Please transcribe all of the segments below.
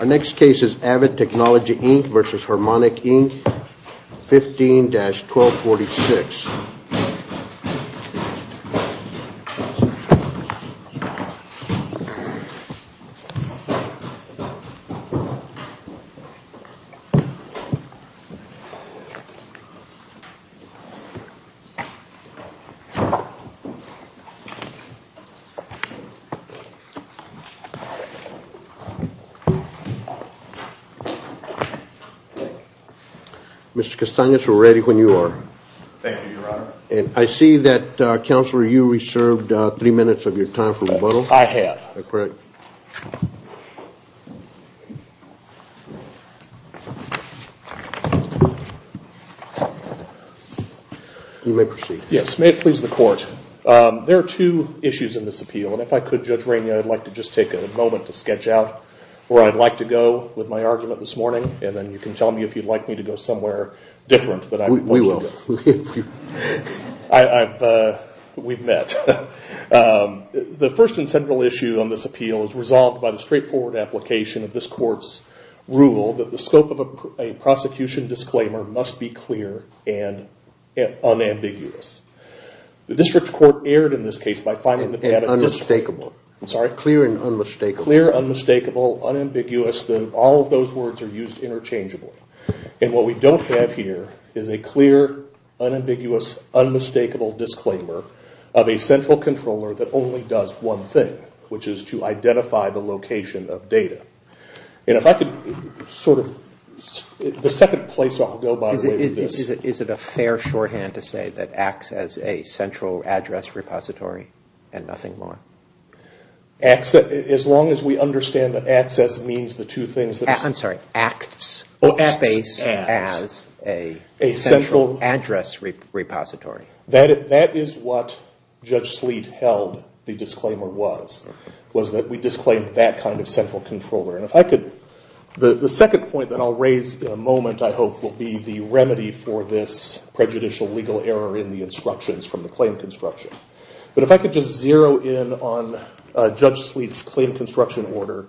Our next case is Avid Technology, Inc. v. Harmonic, Inc. 15-1246. Mr. Castanhas, we're ready when you are. Thank you, Your Honor. And I see that, Counselor, you reserved three minutes of your time for rebuttal. I have. You may proceed. Yes, may it please the Court. There are two issues in this appeal. And if I could, Judge Rainey, I'd like to just take a moment to sketch out where I'd like to go with my argument this morning. And then you can tell me if you'd like me to go somewhere different. We will. We've met. The first and central issue on this appeal is resolved by the straightforward application of this Court's rule that the scope of a prosecution disclaimer must be clear and unambiguous. The District Court erred in this case by finding that we had a clear and unmistakable. Clear, unmistakable, unambiguous, all of those words are used interchangeably. And what we don't have here is a clear, unambiguous, unmistakable disclaimer of a central controller that only does one thing, which is to identify the location of data. And if I could sort of, the second place I'll go, by the way, with this. Is it a fair shorthand to say that acts as a central address repository and nothing more? As long as we understand that access means the two things. I'm sorry, acts, space as a central address repository. That is what Judge Sleet held the disclaimer was, was that we disclaimed that kind of central controller. And if I could, the second point that I'll raise in a moment, I hope, will be the remedy for this prejudicial legal error in the instructions from the claim construction. But if I could just zero in on Judge Sleet's claim construction order,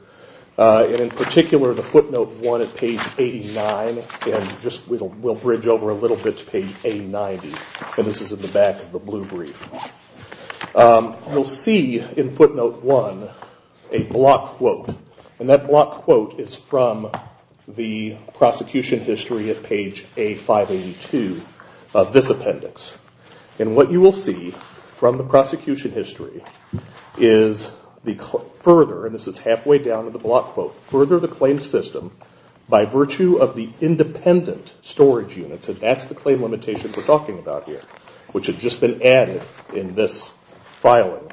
and in particular the footnote one at page 89, and we'll bridge over a little bit to page A90, and this is in the back of the blue brief. You'll see in footnote one a block quote, and that block quote is from the prosecution history at page A582 of this appendix. And what you will see from the prosecution history is the further, and this is halfway down in the block quote, further the claim system by virtue of the independent storage units. And that's the claim limitation we're talking about here, which had just been added in this filing.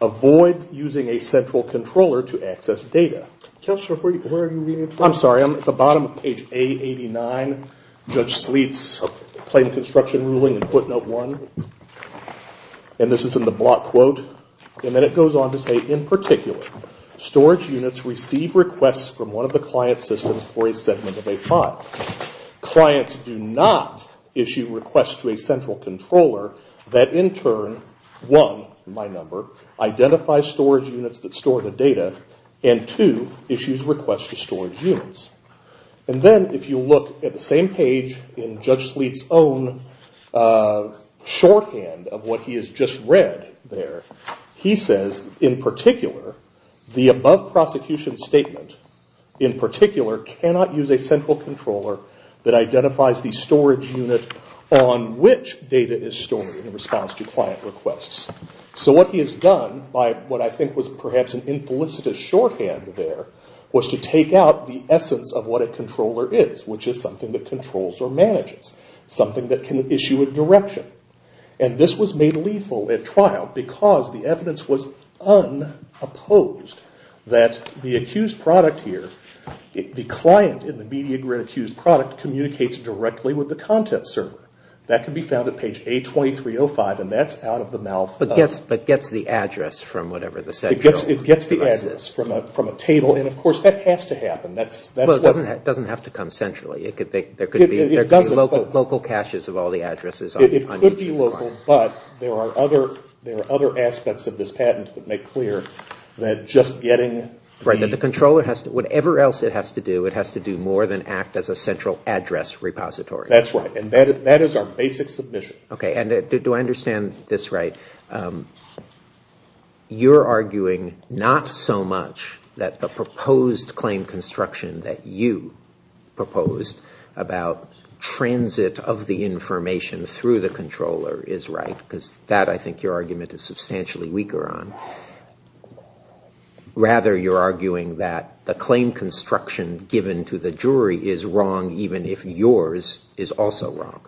Avoid using a central controller to access data. I'm sorry, I'm at the bottom of page A89, Judge Sleet's claim construction ruling in footnote one. And this is in the block quote, and then it goes on to say in particular, storage units receive requests from one of the client systems for a segment of a file. Clients do not issue requests to a central controller that in turn, one, my number, identifies storage units that store the data, and two, issues requests to storage units. And then if you look at the same page in Judge Sleet's own shorthand of what he has just read there, he says in particular, the above prosecution statement in particular cannot use a central controller that identifies the storage unit on which data is stored in response to client requests. So what he has done, by what I think was perhaps an infelicitous shorthand there, was to take out the essence of what a controller is, which is something that controls or manages. Something that can issue a direction. And this was made lethal at trial because the evidence was unopposed. That the accused product here, the client in the media grid accused product, communicates directly with the content server. That can be found at page A2305, and that's out of the mouth of... But gets the address from whatever the central... It gets the address from a table, and of course that has to happen. It doesn't have to come centrally. There could be local caches of all the addresses. It could be local, but there are other aspects of this patent that make clear that just getting... Whatever else it has to do, it has to do more than act as a central address repository. That's right, and that is our basic submission. You're arguing not so much that the proposed claim construction that you proposed about transit of the information through the controller is right, because that I think your argument is substantially weaker on. Rather, you're arguing that the claim construction given to the jury is wrong, even if yours is also wrong.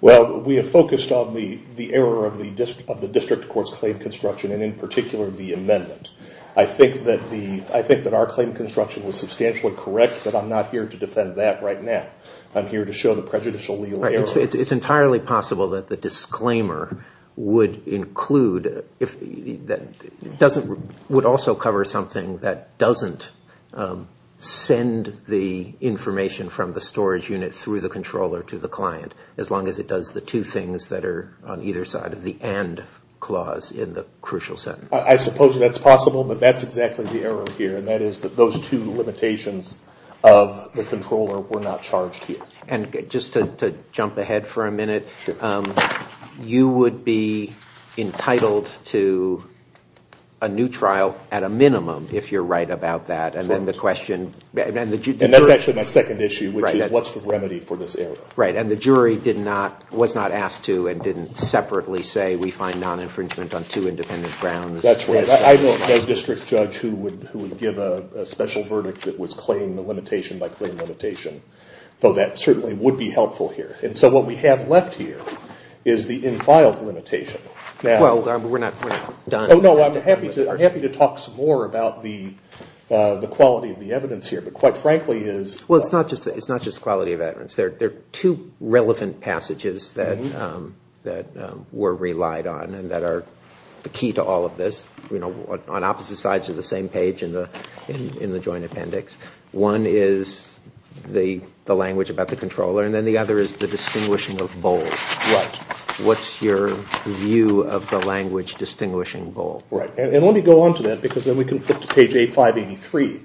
Well, we have focused on the error of the district court's claim construction, and in particular the amendment. I think that our claim construction was substantially correct, but I'm not here to defend that right now. I'm here to show the prejudicial legal error. It's entirely possible that the disclaimer would include... Would also cover something that doesn't send the information from the storage unit through the controller to the client, as long as it does the two things that are on either side of the and clause in the crucial sentence. I suppose that's possible, but that's exactly the error here, and that is that those two limitations of the controller were not charged here. And just to jump ahead for a minute, you would be entitled to a new trial at a minimum, if you're right about that, and then the question... And that's actually my second issue, which is what's the remedy for this error? Right, and the jury was not asked to and didn't separately say we find non-infringement on two independent grounds. That's right. I don't know a district judge who would give a special verdict that would claim the limitation by claim limitation, though that certainly would be helpful here. And so what we have left here is the infiled limitation. Well, we're not done. Oh, no, I'm happy to talk some more about the quality of the evidence here, but quite frankly is... Well, it's not just quality of evidence. There are two relevant passages that were relied on and that are the key to all of this. You know, on opposite sides of the same page in the joint appendix. One is the language about the controller, and then the other is the distinguishing of bold. Right. What's your view of the language distinguishing bold? Right, and let me go on to that because then we can flip to page A583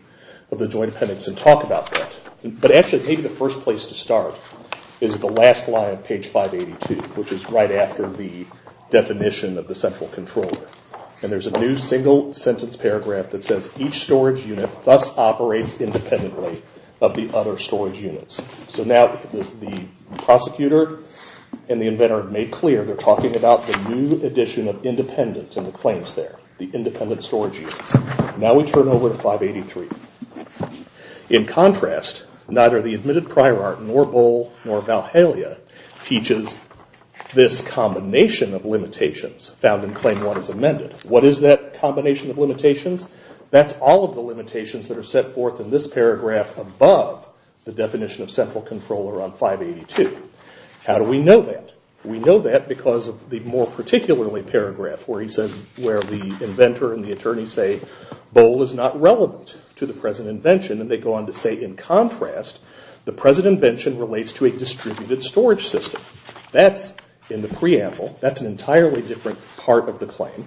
of the joint appendix and talk about that. But actually maybe the first place to start is the last line of page 582, which is right after the definition of the central controller. And there's a new single sentence paragraph that says each storage unit thus operates independently of the other storage units. So now the prosecutor and the inventor have made clear they're talking about the new addition of independent in the claims there. The independent storage units. Now we turn over to 583. In contrast, neither the admitted prior art, nor bold, nor Valhalla teaches this combination of limitations found in claim one as amended. What is that combination of limitations? That's all of the limitations that are set forth in this paragraph above the definition of central controller on 582. How do we know that? We know that because of the more particularly paragraph where he says, where the inventor and the attorney say bold is not relevant to the present invention. And they go on to say in contrast, the present invention relates to a distributed storage system. That's in the preamble. That's an entirely different part of the claim.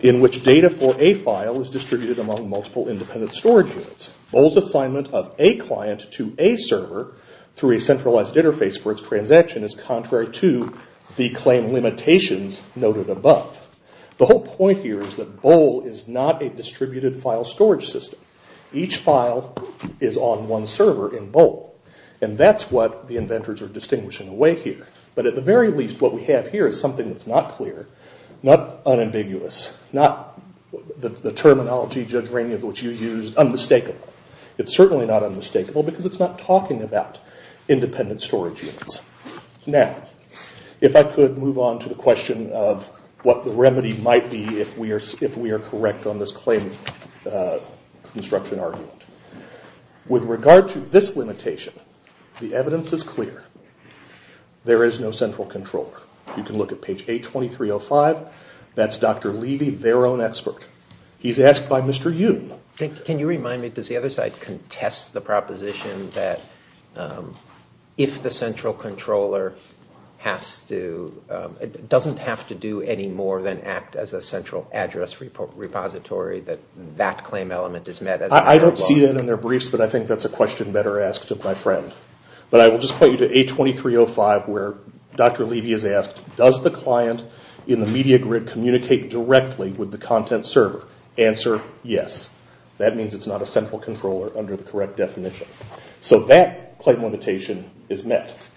In which data for a file is distributed among multiple independent storage units. Bold's assignment of a client to a server through a centralized interface for its transaction is contrary to the claim limitations noted above. The whole point here is that bold is not a distributed file storage system. Each file is on one server in bold. And that's what the inventors are distinguishing away here. But at the very least what we have here is something that's not clear, not unambiguous, not the terminology, Judge Rainey, of which you used, unmistakable. It's certainly not unmistakable because it's not talking about independent storage units. Now, if I could move on to the question of what the remedy might be if we are correct on this claim construction argument. With regard to this limitation, the evidence is clear. There is no central controller. You can look at page A2305. That's Dr. Levy, their own expert. He's asked by Mr. Yoon. Can you remind me, does the other side contest the proposition that if the central controller doesn't have to do any more than act as a central address repository that that claim element is met? I don't see that in their briefs, but I think that's a question better asked of my friend. But I will just point you to A2305 where Dr. Levy is asked, does the client in the media grid communicate directly with the content server? Answer, yes. That means it's not a central controller under the correct definition. So that claim limitation is met.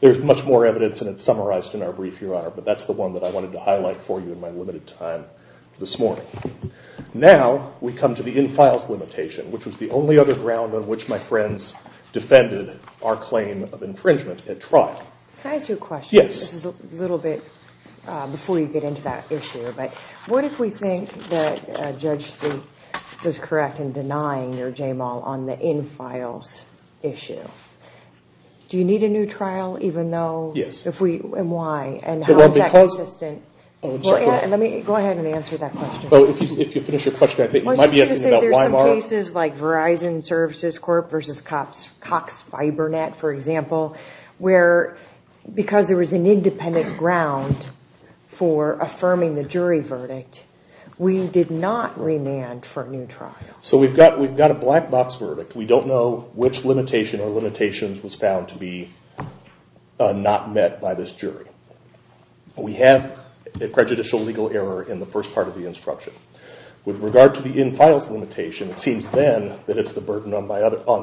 There's much more evidence, and it's summarized in our brief, Your Honor, but that's the one that I wanted to highlight for you in my limited time this morning. Now we come to the infiles limitation, which was the only other ground on which my friends defended our claim of infringement at trial. Can I ask you a question? Yes. This is a little bit before you get into that issue, but what if we think that Judge Steepe was correct in denying your JMAL on the infiles issue? Do you need a new trial even though... Yes. And why? And how is that consistent? Let me go ahead and answer that question. Well, if you finish your question, I think you might be asking about YMR. There's some cases like Verizon Services Corp versus Cox Fibernet, for example, where because there was an independent ground for affirming the jury verdict, we did not remand for a new trial. So we've got a black box verdict. We don't know which limitation or limitations was found to be not met by this jury. We have a prejudicial legal error in the first part of the instruction. With regard to the infiles limitation, it seems then that it's the burden on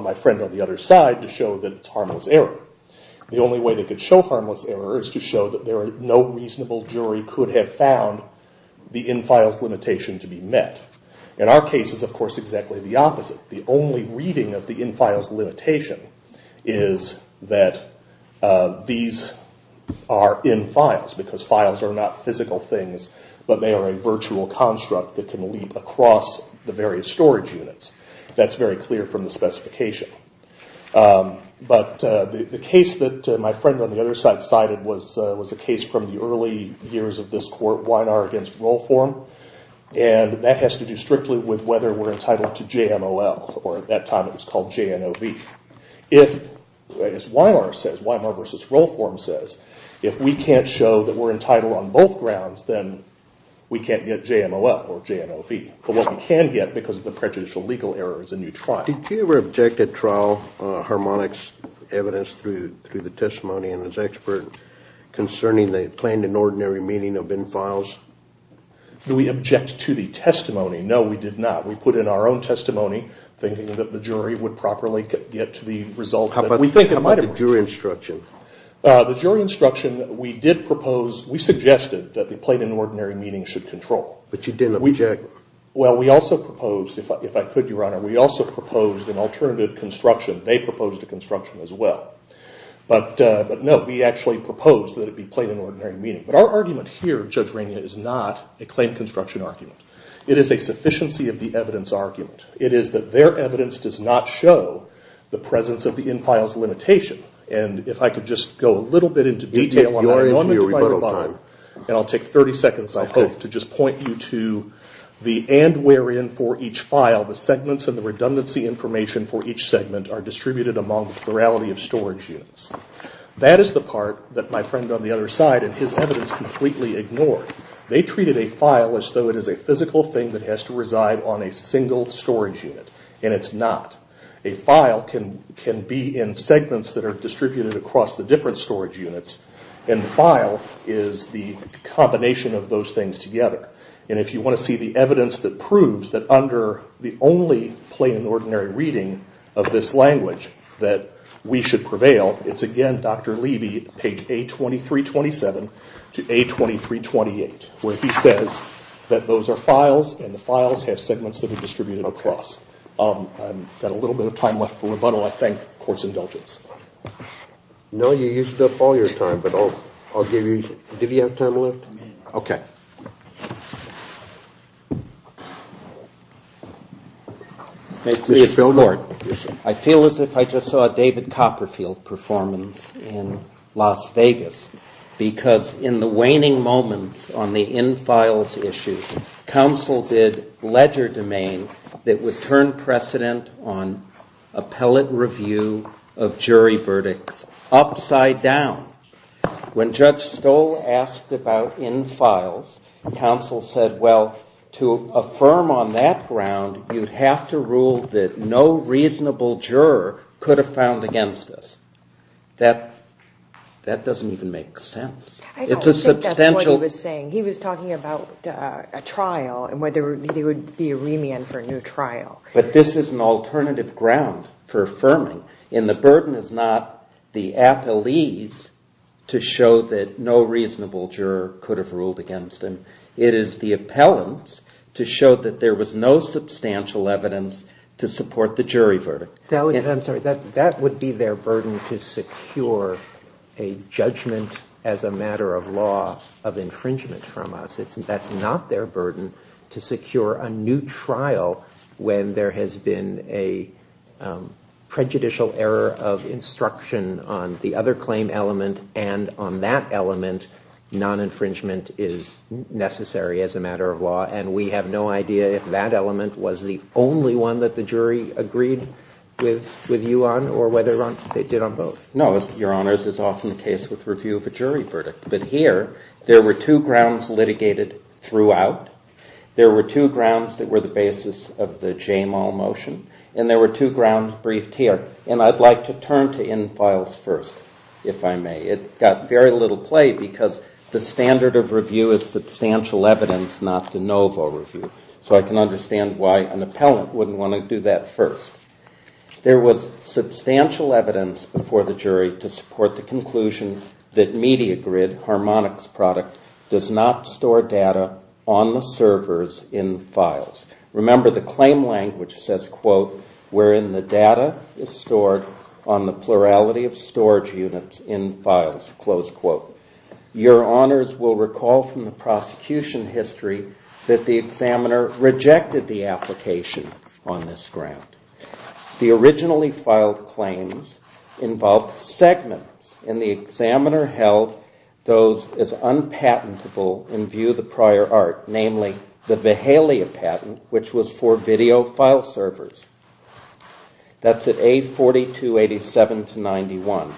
my friend on the other side to show that it's harmless error. The only way they could show harmless error is to show that no reasonable jury could have found the infiles limitation to be met. In our case, it's of course exactly the opposite. The only reading of the infiles limitation is that these are infiles, because files are not physical things, but they are a virtual construct that can leap across the various storage units. That's very clear from the specification. But the case that my friend on the other side cited was a case from the early years of this court, and that has to do strictly with whether we're entitled to JMOL, or at that time it was called JNOV. If, as Weimar says, Weimar v. Rollform says, if we can't show that we're entitled on both grounds, then we can't get JMOL or JNOV. But what we can get because of the prejudicial legal error is a new trial. Did you ever object at trial Harmonic's evidence through the testimony and his expert concerning the plain and ordinary meaning of infiles? Do we object to the testimony? No, we did not. We put in our own testimony, thinking that the jury would properly get to the result. How about the jury instruction? We suggested that the plain and ordinary meaning should control. But you didn't object? Well, we also proposed, if I could, Your Honor, we also proposed an alternative construction. They proposed a construction as well. But no, we actually proposed that it be plain and ordinary meaning. But our argument here, Judge Rainier, is not a claim construction argument. It is a sufficiency of the evidence argument. It is that their evidence does not show the presence of the infiles limitation. And if I could just go a little bit into detail on that. And I'll take 30 seconds, I hope, to just point you to the and wherein for each file, the segments and the redundancy information for each segment are distributed among the plurality of storage units. That is the part that my friend on the other side in his evidence completely ignored. They treated a file as though it is a physical thing that has to reside on a single storage unit. And it's not. A file can be in segments that are distributed across the different storage units. And the file is the combination of those things together. And if you want to see the evidence that proves that under the only plain and ordinary reading of this language that we should prevail, it's again Dr. Levy, page A2327 to A2328, where he says that those are files and the files have segments that are distributed across. I've got a little bit of time left for rebuttal. I thank the Court's indulgence. I feel as if I just saw a David Copperfield performance in Las Vegas. Because in the waning moments on the in-files issues, counsel did ledger domain that would turn precedent on appellate review of jury verdicts upside down. When Judge Stoll asked about in-files, counsel said, well, to affirm on that ground, you'd have to rule that no reasonable juror could have found against us. That doesn't even make sense. I don't think that's what he was saying. He was talking about a trial and whether there would be a remand for a new trial. But this is an alternative ground for affirming. And the burden is not the appellees to show that no reasonable juror could have ruled against them. It is the appellants to show that there was no substantial evidence to support the jury verdict. That would be their burden to secure a judgment as a matter of law of infringement from us. That's not their burden to secure a new trial when there has been a prejudicial error of instruction on the other claim element. And on that element, non-infringement is necessary as a matter of law. And we have no idea if that element was the only one that the jury agreed with you on or whether they did on both. No, Your Honors, it's often the case with review of a jury verdict. But here, there were two grounds litigated throughout. There were two grounds that were the basis of the Jamal motion. And there were two grounds briefed here. And I'd like to turn to in-files first, if I may. It got very little play because the standard of review is substantial evidence, not de novo review. So I can understand why an appellant wouldn't want to do that first. There was substantial evidence before the jury to support the conclusion that MediaGrid, Harmonic's product, does not store data on the servers in files. Remember, the claim language says, quote, wherein the data is stored on the plurality of storage units in files, close quote. Your Honors will recall from the prosecution history that the examiner rejected the application on this ground. The originally filed claims involved segments, and the examiner held those as unpatentable in view of the prior art, namely the Vahalia patent, which was for video file servers. That's at A4287-91.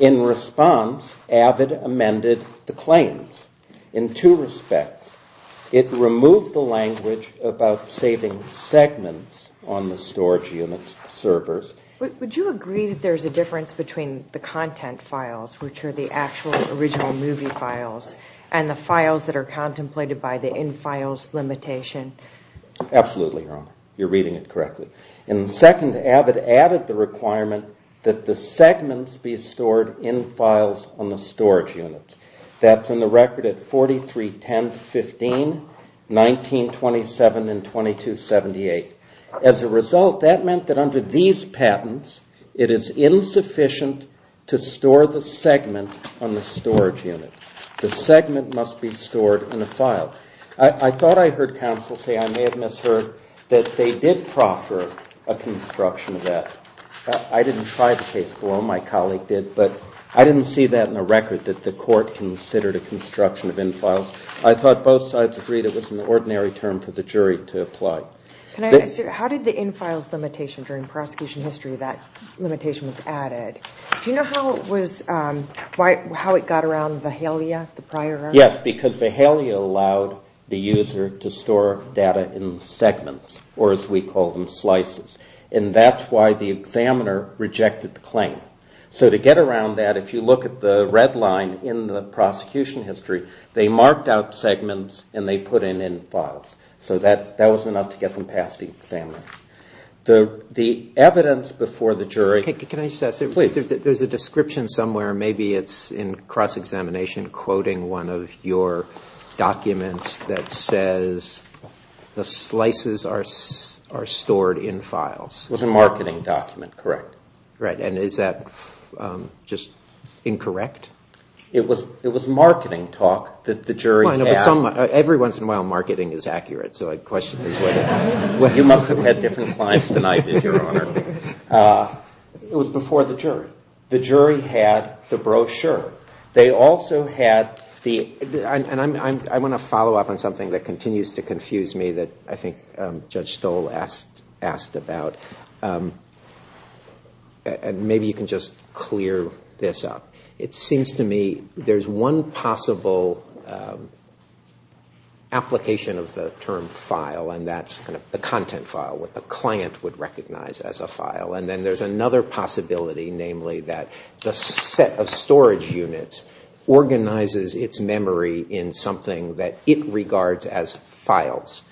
In response, AVID amended the claims in two respects. It removed the language about saving segments on the storage unit servers. Would you agree that there's a difference between the content files, which are the actual original movie files, and the files that are contemplated by the in-files limitation? Absolutely, Your Honor. You're reading it correctly. In the second, AVID added the requirement that the segments be stored in files on the storage units. That's in the record at 4310-15, 1927, and 2278. As a result, that meant that under these patents, it is insufficient to store the segment on the storage unit. The segment must be stored in a file. I thought I heard counsel say, I may have misheard, that they did proffer a construction of that. I didn't try the case below. My colleague did. But I didn't see that in the record, that the court considered a construction of in-files. I thought both sides agreed it was an ordinary term for the jury to apply. How did the in-files limitation during prosecution history, that limitation was added, do you know how it got around Vahalia? Yes, because Vahalia allowed the user to store data in segments, or as we call them, slices. And that's why the examiner rejected the claim. So to get around that, if you look at the red line in the prosecution history, they marked out segments and they put in in-files. So that was enough to get them past the examiner. The evidence before the jury... There's a description somewhere, maybe it's in cross-examination, quoting one of your documents that says, the slices are stored in files. It was a marketing document, correct. Right. And is that just incorrect? It was marketing talk that the jury had. Every once in a while, marketing is accurate. It was before the jury. The jury had the brochure. And I want to follow up on something that continues to confuse me that I think Judge Stoll asked about. And maybe you can just clear this up. It seems to me there's one possible application of the term file, and that's the content file, what the client would recognize as a file. And then there's another possibility, namely that the set of storage units organizes its memory in something that it regards as files.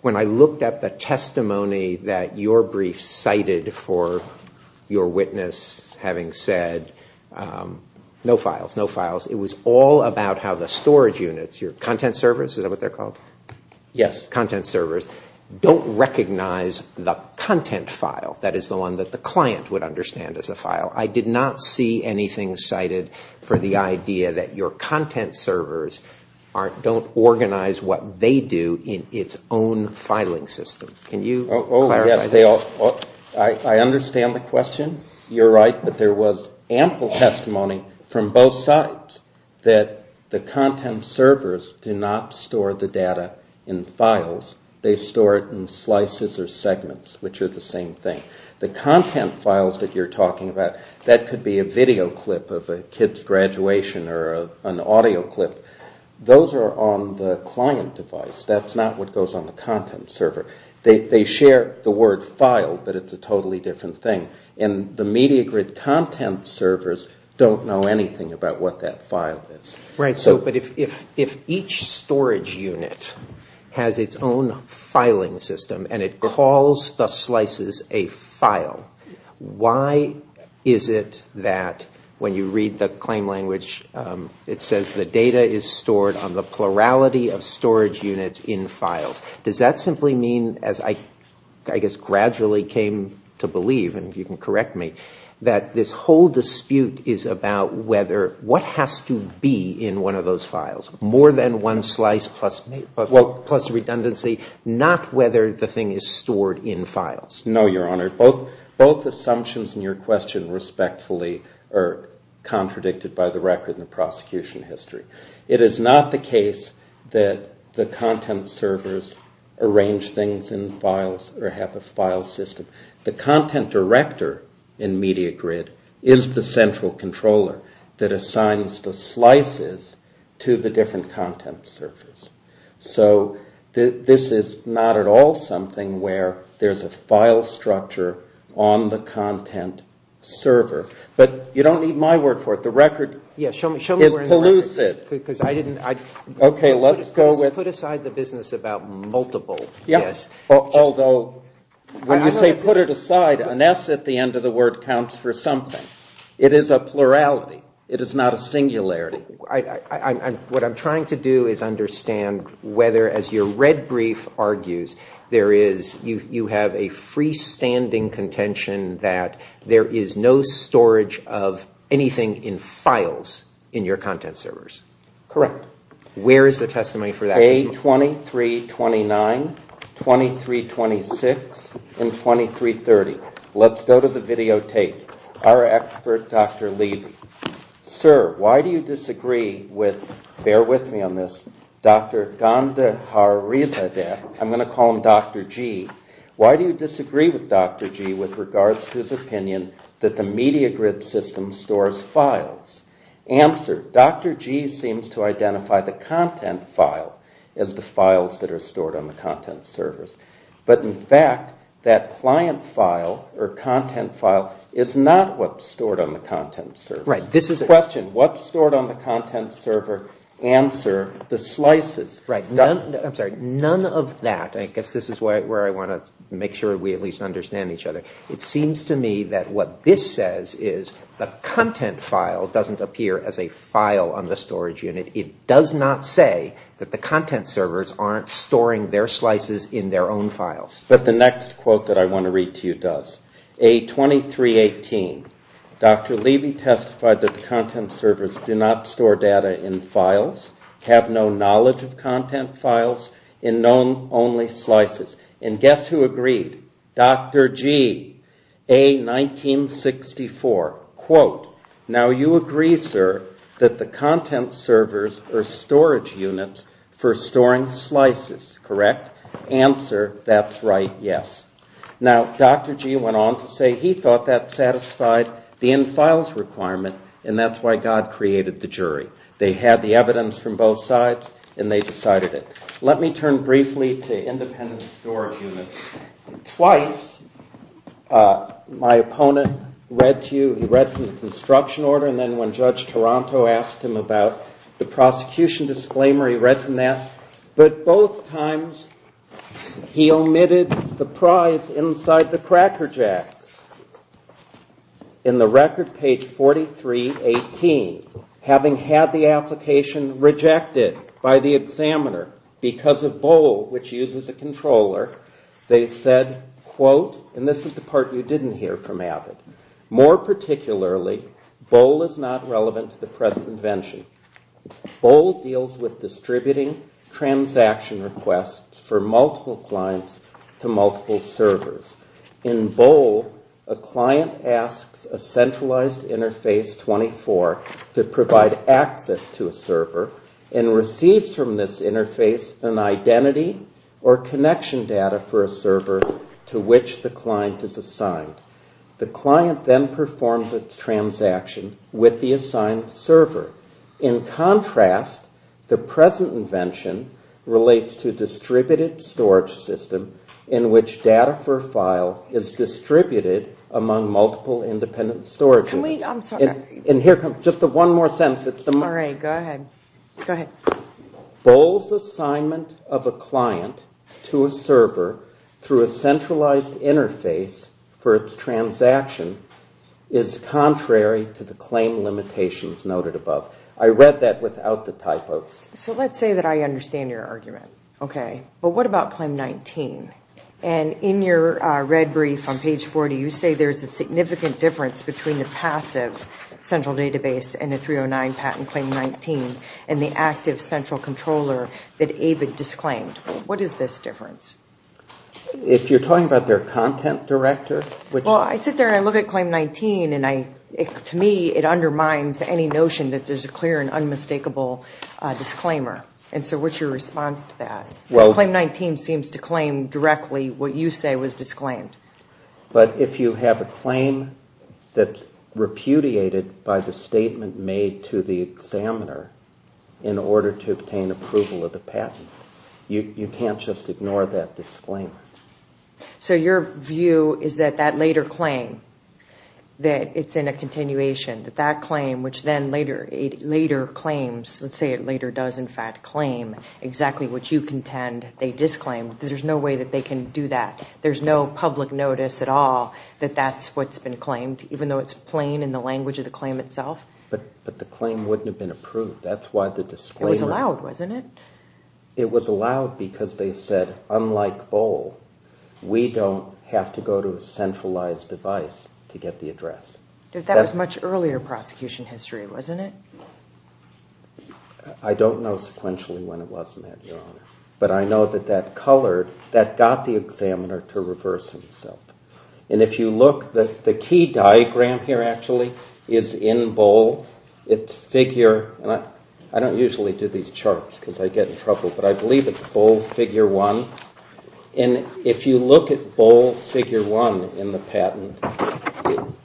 When I looked at the testimony that your brief cited for your witness having said, no files, no files, it was all about how the storage units, your content servers, is that what they're called? Yes. Content servers. Don't recognize the content file, that is the one that the client would understand as a file. I did not see anything cited for the idea that your content servers don't organize what they do in its own filing system. Can you clarify this? I understand the question. You're right, but there was ample testimony from both sides that the content servers do not store the data in files. They store it in slices or segments, which are the same thing. The content files that you're talking about, that could be a video clip of a kid's graduation or an audio clip. Those are on the client device. That's not what goes on the content server. They share the word file, but it's a totally different thing. And the media grid content servers don't know anything about what that file is. Right. But if each storage unit has its own filing system and it calls the slices a file, why is it that when you read the claim language, it says the data is stored on the plurality of storage units in files. Does that simply mean, as I gradually came to believe, and you can correct me, that this whole dispute is about what has to be in one of those files. More than one slice plus redundancy, not whether the thing is stored in files. Both assumptions in your question respectfully are contradicted by the record in the prosecution history. It is not the case that the content servers arrange things in files or have a file system. The content director in media grid is the central controller that assigns the slices to the different content servers. So this is not at all something where there's a file structure on the content server. But you don't need my word for it. The record is elusive. Put aside the business about multiple. When you say put it aside, an S at the end of the word counts for something. It is a plurality. It is not a singularity. What I'm trying to do is understand whether, as your red brief argues, you have a freestanding contention that there is no storage of anything in files in your content servers. Correct. A2329, 2326, and 2330. Let's go to the videotape. Our expert, Dr. Levy. Sir, why do you disagree with, bear with me on this, Dr. Gandhari, I'm going to call him Dr. G, why do you disagree with Dr. G with regards to his opinion that the media grid system stores files? Answer, Dr. G seems to identify the content file as the files that are stored on the content servers. But in fact, that client file or content file is not what's stored on the content server. Question, what's stored on the content server? Answer, the slices. None of that. I guess this is where I want to make sure we at least understand each other. It seems to me that what this says is the content file doesn't appear as a file on the storage unit. It does not say that the content servers aren't storing their slices in their own files. But the next quote that I want to read to you does. A2318, Dr. Levy testified that the content servers do not store data in files, have no knowledge of content files, and known only slices. And guess who agreed? Dr. G, A1964, quote, now you agree, sir, that the content servers are storage units for storing slices, correct? Answer, that's right, yes. Now, Dr. G went on to say he thought that satisfied the in-files requirement, and that's why God created the jury. They had the evidence from both sides, and they decided it. Let me turn briefly to independent storage units. Twice my opponent read to you, he read from the construction order, and then when Judge Taranto asked him about the prosecution disclaimer, he read from that. But both times he omitted the prize inside the Cracker Jacks. In the record page 4318, having had the application rejected by the examiner because of Bohl, which uses a controller, they said, quote, and this is the part you didn't hear from AVID, more particularly, Bohl is not relevant to the present invention. Bohl deals with distributing transaction requests for multiple clients to multiple servers. In Bohl, a client asks a centralized interface 24 to provide access to a server, and receives from this interface an identity or connection data for a server to which the client is assigned. The client then performs the transaction with the assigned server. In contrast, the present invention relates to a distributed storage system in which data for a file is distributed among multiple independent storage units. Bohl's assignment of a client to a server through a centralized interface for its transaction is contrary to the claim limitations noted above. I read that without the typos. So let's say that I understand your argument, okay, but what about claim 19? And in your red brief on page 40, you say there's a significant difference between the passive central database and the 309 patent claim 19 and the active central controller that AVID disclaimed. What is this difference? Well, I sit there and I look at claim 19, and to me it undermines any notion that there's a clear and unmistakable disclaimer. And so what's your response to that? Claim 19 seems to claim directly what you say was disclaimed. But if you have a claim that's repudiated by the statement made to the examiner in order to obtain approval of the patent, you can't just ignore that disclaimer. So your view is that that later claim, that it's in a continuation, that that claim, which then later claims, let's say it later does in fact claim, exactly what you contend they disclaimed, there's no way that they can do that. There's no public notice at all that that's what's been claimed, even though it's plain in the language of the claim itself? But the claim wouldn't have been approved. That's why the disclaimer... It was allowed, wasn't it? It was allowed because they said, unlike Bohl, we don't have to go to a centralized device to get the address. But that was much earlier prosecution history, wasn't it? I don't know sequentially when it was met, Your Honor. But I know that that colored, that got the examiner to reverse himself. And if you look, the key diagram here actually is in Bohl. It's figure, and I don't usually do these charts because I get in trouble, but I believe it's Bohl figure one. And if you look at Bohl figure one in the patent,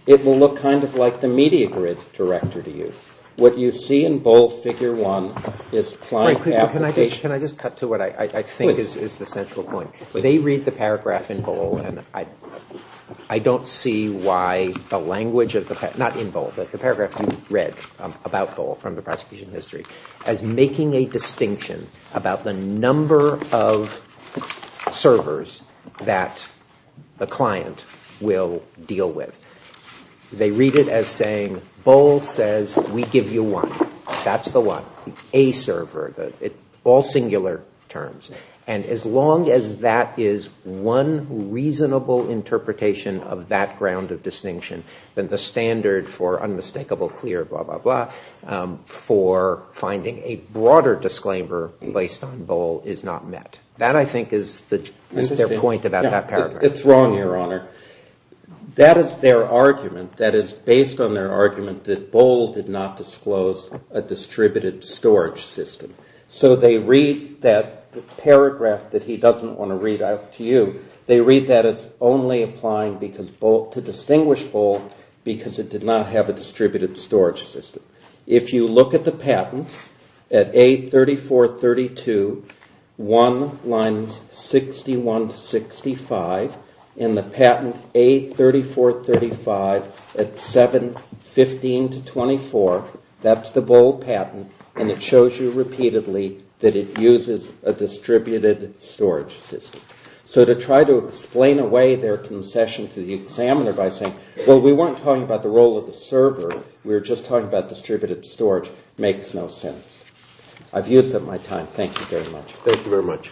it will look kind of like the media grid director to you. What you see in Bohl figure one is... Can I just cut to what I think is the central point? They read the paragraph in Bohl, and I don't see why the language of the, not in Bohl, but the paragraph you read about Bohl from the prosecution history, as making a distinction about the number of servers that the client will deal with. They read it as saying, Bohl says we give you one. That's the one, a server, all singular terms. And as long as that is one reasonable interpretation of that ground of distinction, then the standard for unmistakable clear, blah, blah, blah, for finding a broader disclaimer based on Bohl is not met. That I think is their point about that paragraph. It's wrong, Your Honor. That is their argument. That is based on their argument that Bohl did not disclose a distributed storage system. So they read that paragraph that he doesn't want to read out to you. They read that as only applying to distinguish Bohl because it did not have a distributed storage system. If you look at the patents at A3432, 1 lines 61 to 65, and the patent A3435 at 7, 15 to 24, that's the Bohl patent, and it shows you repeatedly that it uses a distributed storage system. So to try to explain away their concession to the examiner by saying, well we weren't talking about the role of the server, we were just talking about distributed storage, makes no sense. I've used up my time. Thank you very much. Thank you very much.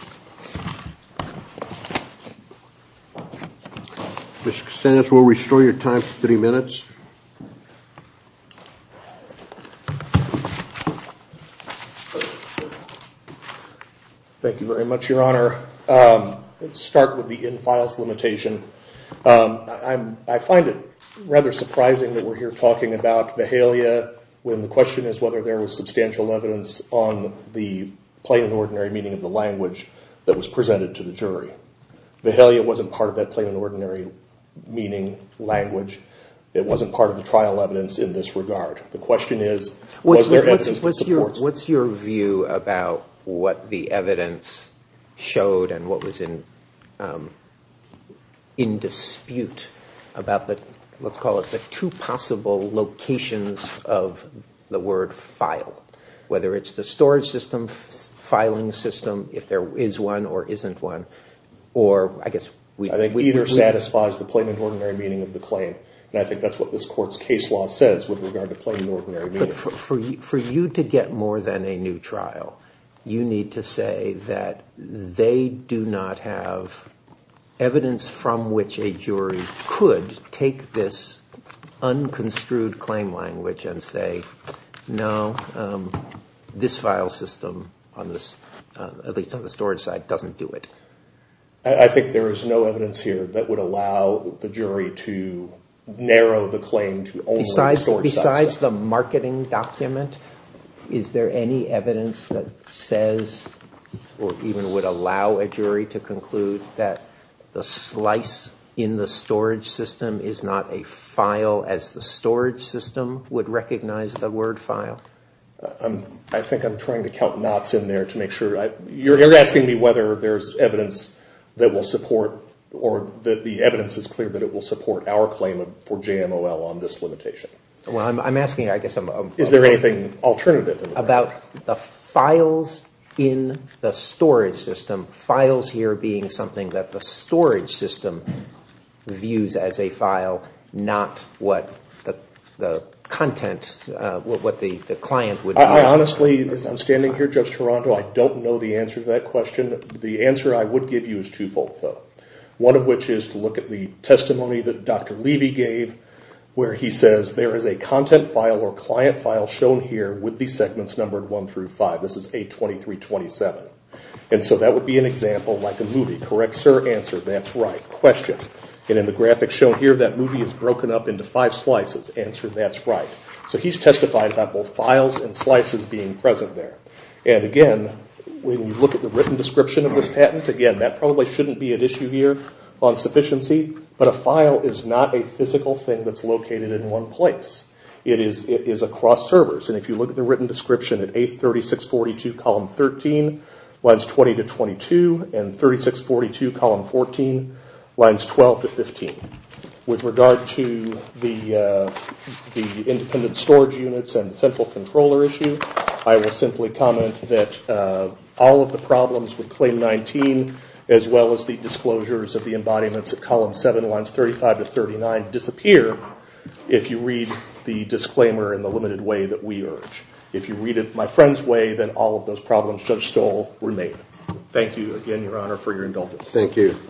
Thank you very much, Your Honor. Let's start with the in-files limitation. I find it rather surprising that we're here talking about Vahalia when the question is whether there was substantial evidence on the plain and ordinary meaning of the language that was presented to the jury. Vahalia wasn't part of that plain and ordinary meaning language. It wasn't part of the trial evidence in this regard. The question is was there evidence that supports it. What's your view about what the evidence showed and what was in dispute about the, let's call it, the two possible locations of the word file? Whether it's the storage system, filing system, if there is one or isn't one, or I guess... I think either satisfies the plain and ordinary meaning of the claim, and I think that's what this Court's case law says with regard to plain and ordinary meaning. But for you to get more than a new trial, you need to say that they do not have evidence from which a jury could take this unconstrued claim language and say, no, this file system, at least on the storage side, doesn't do it. I think there is no evidence here that would allow the jury to narrow the claim to only the storage side. Besides the marketing document, is there any evidence that says or even would allow a jury to conclude that the slice in the storage system is not a file as the storage system would recognize the word file? I think I'm trying to count knots in there to make sure. You're asking me whether there's evidence that will support or the evidence is clear that it will support our claim for JMOL on this limitation. Well, I'm asking, I guess... Is there anything alternative? About the files in the storage system, files here being something that the storage system views as a file, not what the content, what the client would... Honestly, I'm standing here, Judge Toronto, I don't know the answer to that question. The answer I would give you is twofold, though. One of which is to look at the testimony that Dr. Levy gave, where he says, there is a content file or client file shown here with the segments numbered 1 through 5. This is A2327. That would be an example like a movie. Correct, sir? Answer, that's right. Question. In the graphic shown here, that movie is broken up into five slices. Answer, that's right. He's testified about both files and slices being present there. Again, when you look at the written description of this patent, that probably shouldn't be at issue here on sufficiency, but a file is not a physical thing that's located in one place. It is across servers. If you look at the written description at A3642, column 13, lines 20 to 22, and 3642, column 14, lines 12 to 15. With regard to the independent storage units and central controller issue, I will simply comment that all of the problems with claim 19, as well as the disclosures of the embodiments at column 7, lines 35 to 39, disappear if you read the disclaimer in the limited way that we urge. If you read it my friend's way, then all of those problems, Judge Stoll, remain. Thank you again, Your Honor, for your indulgence. Thank you.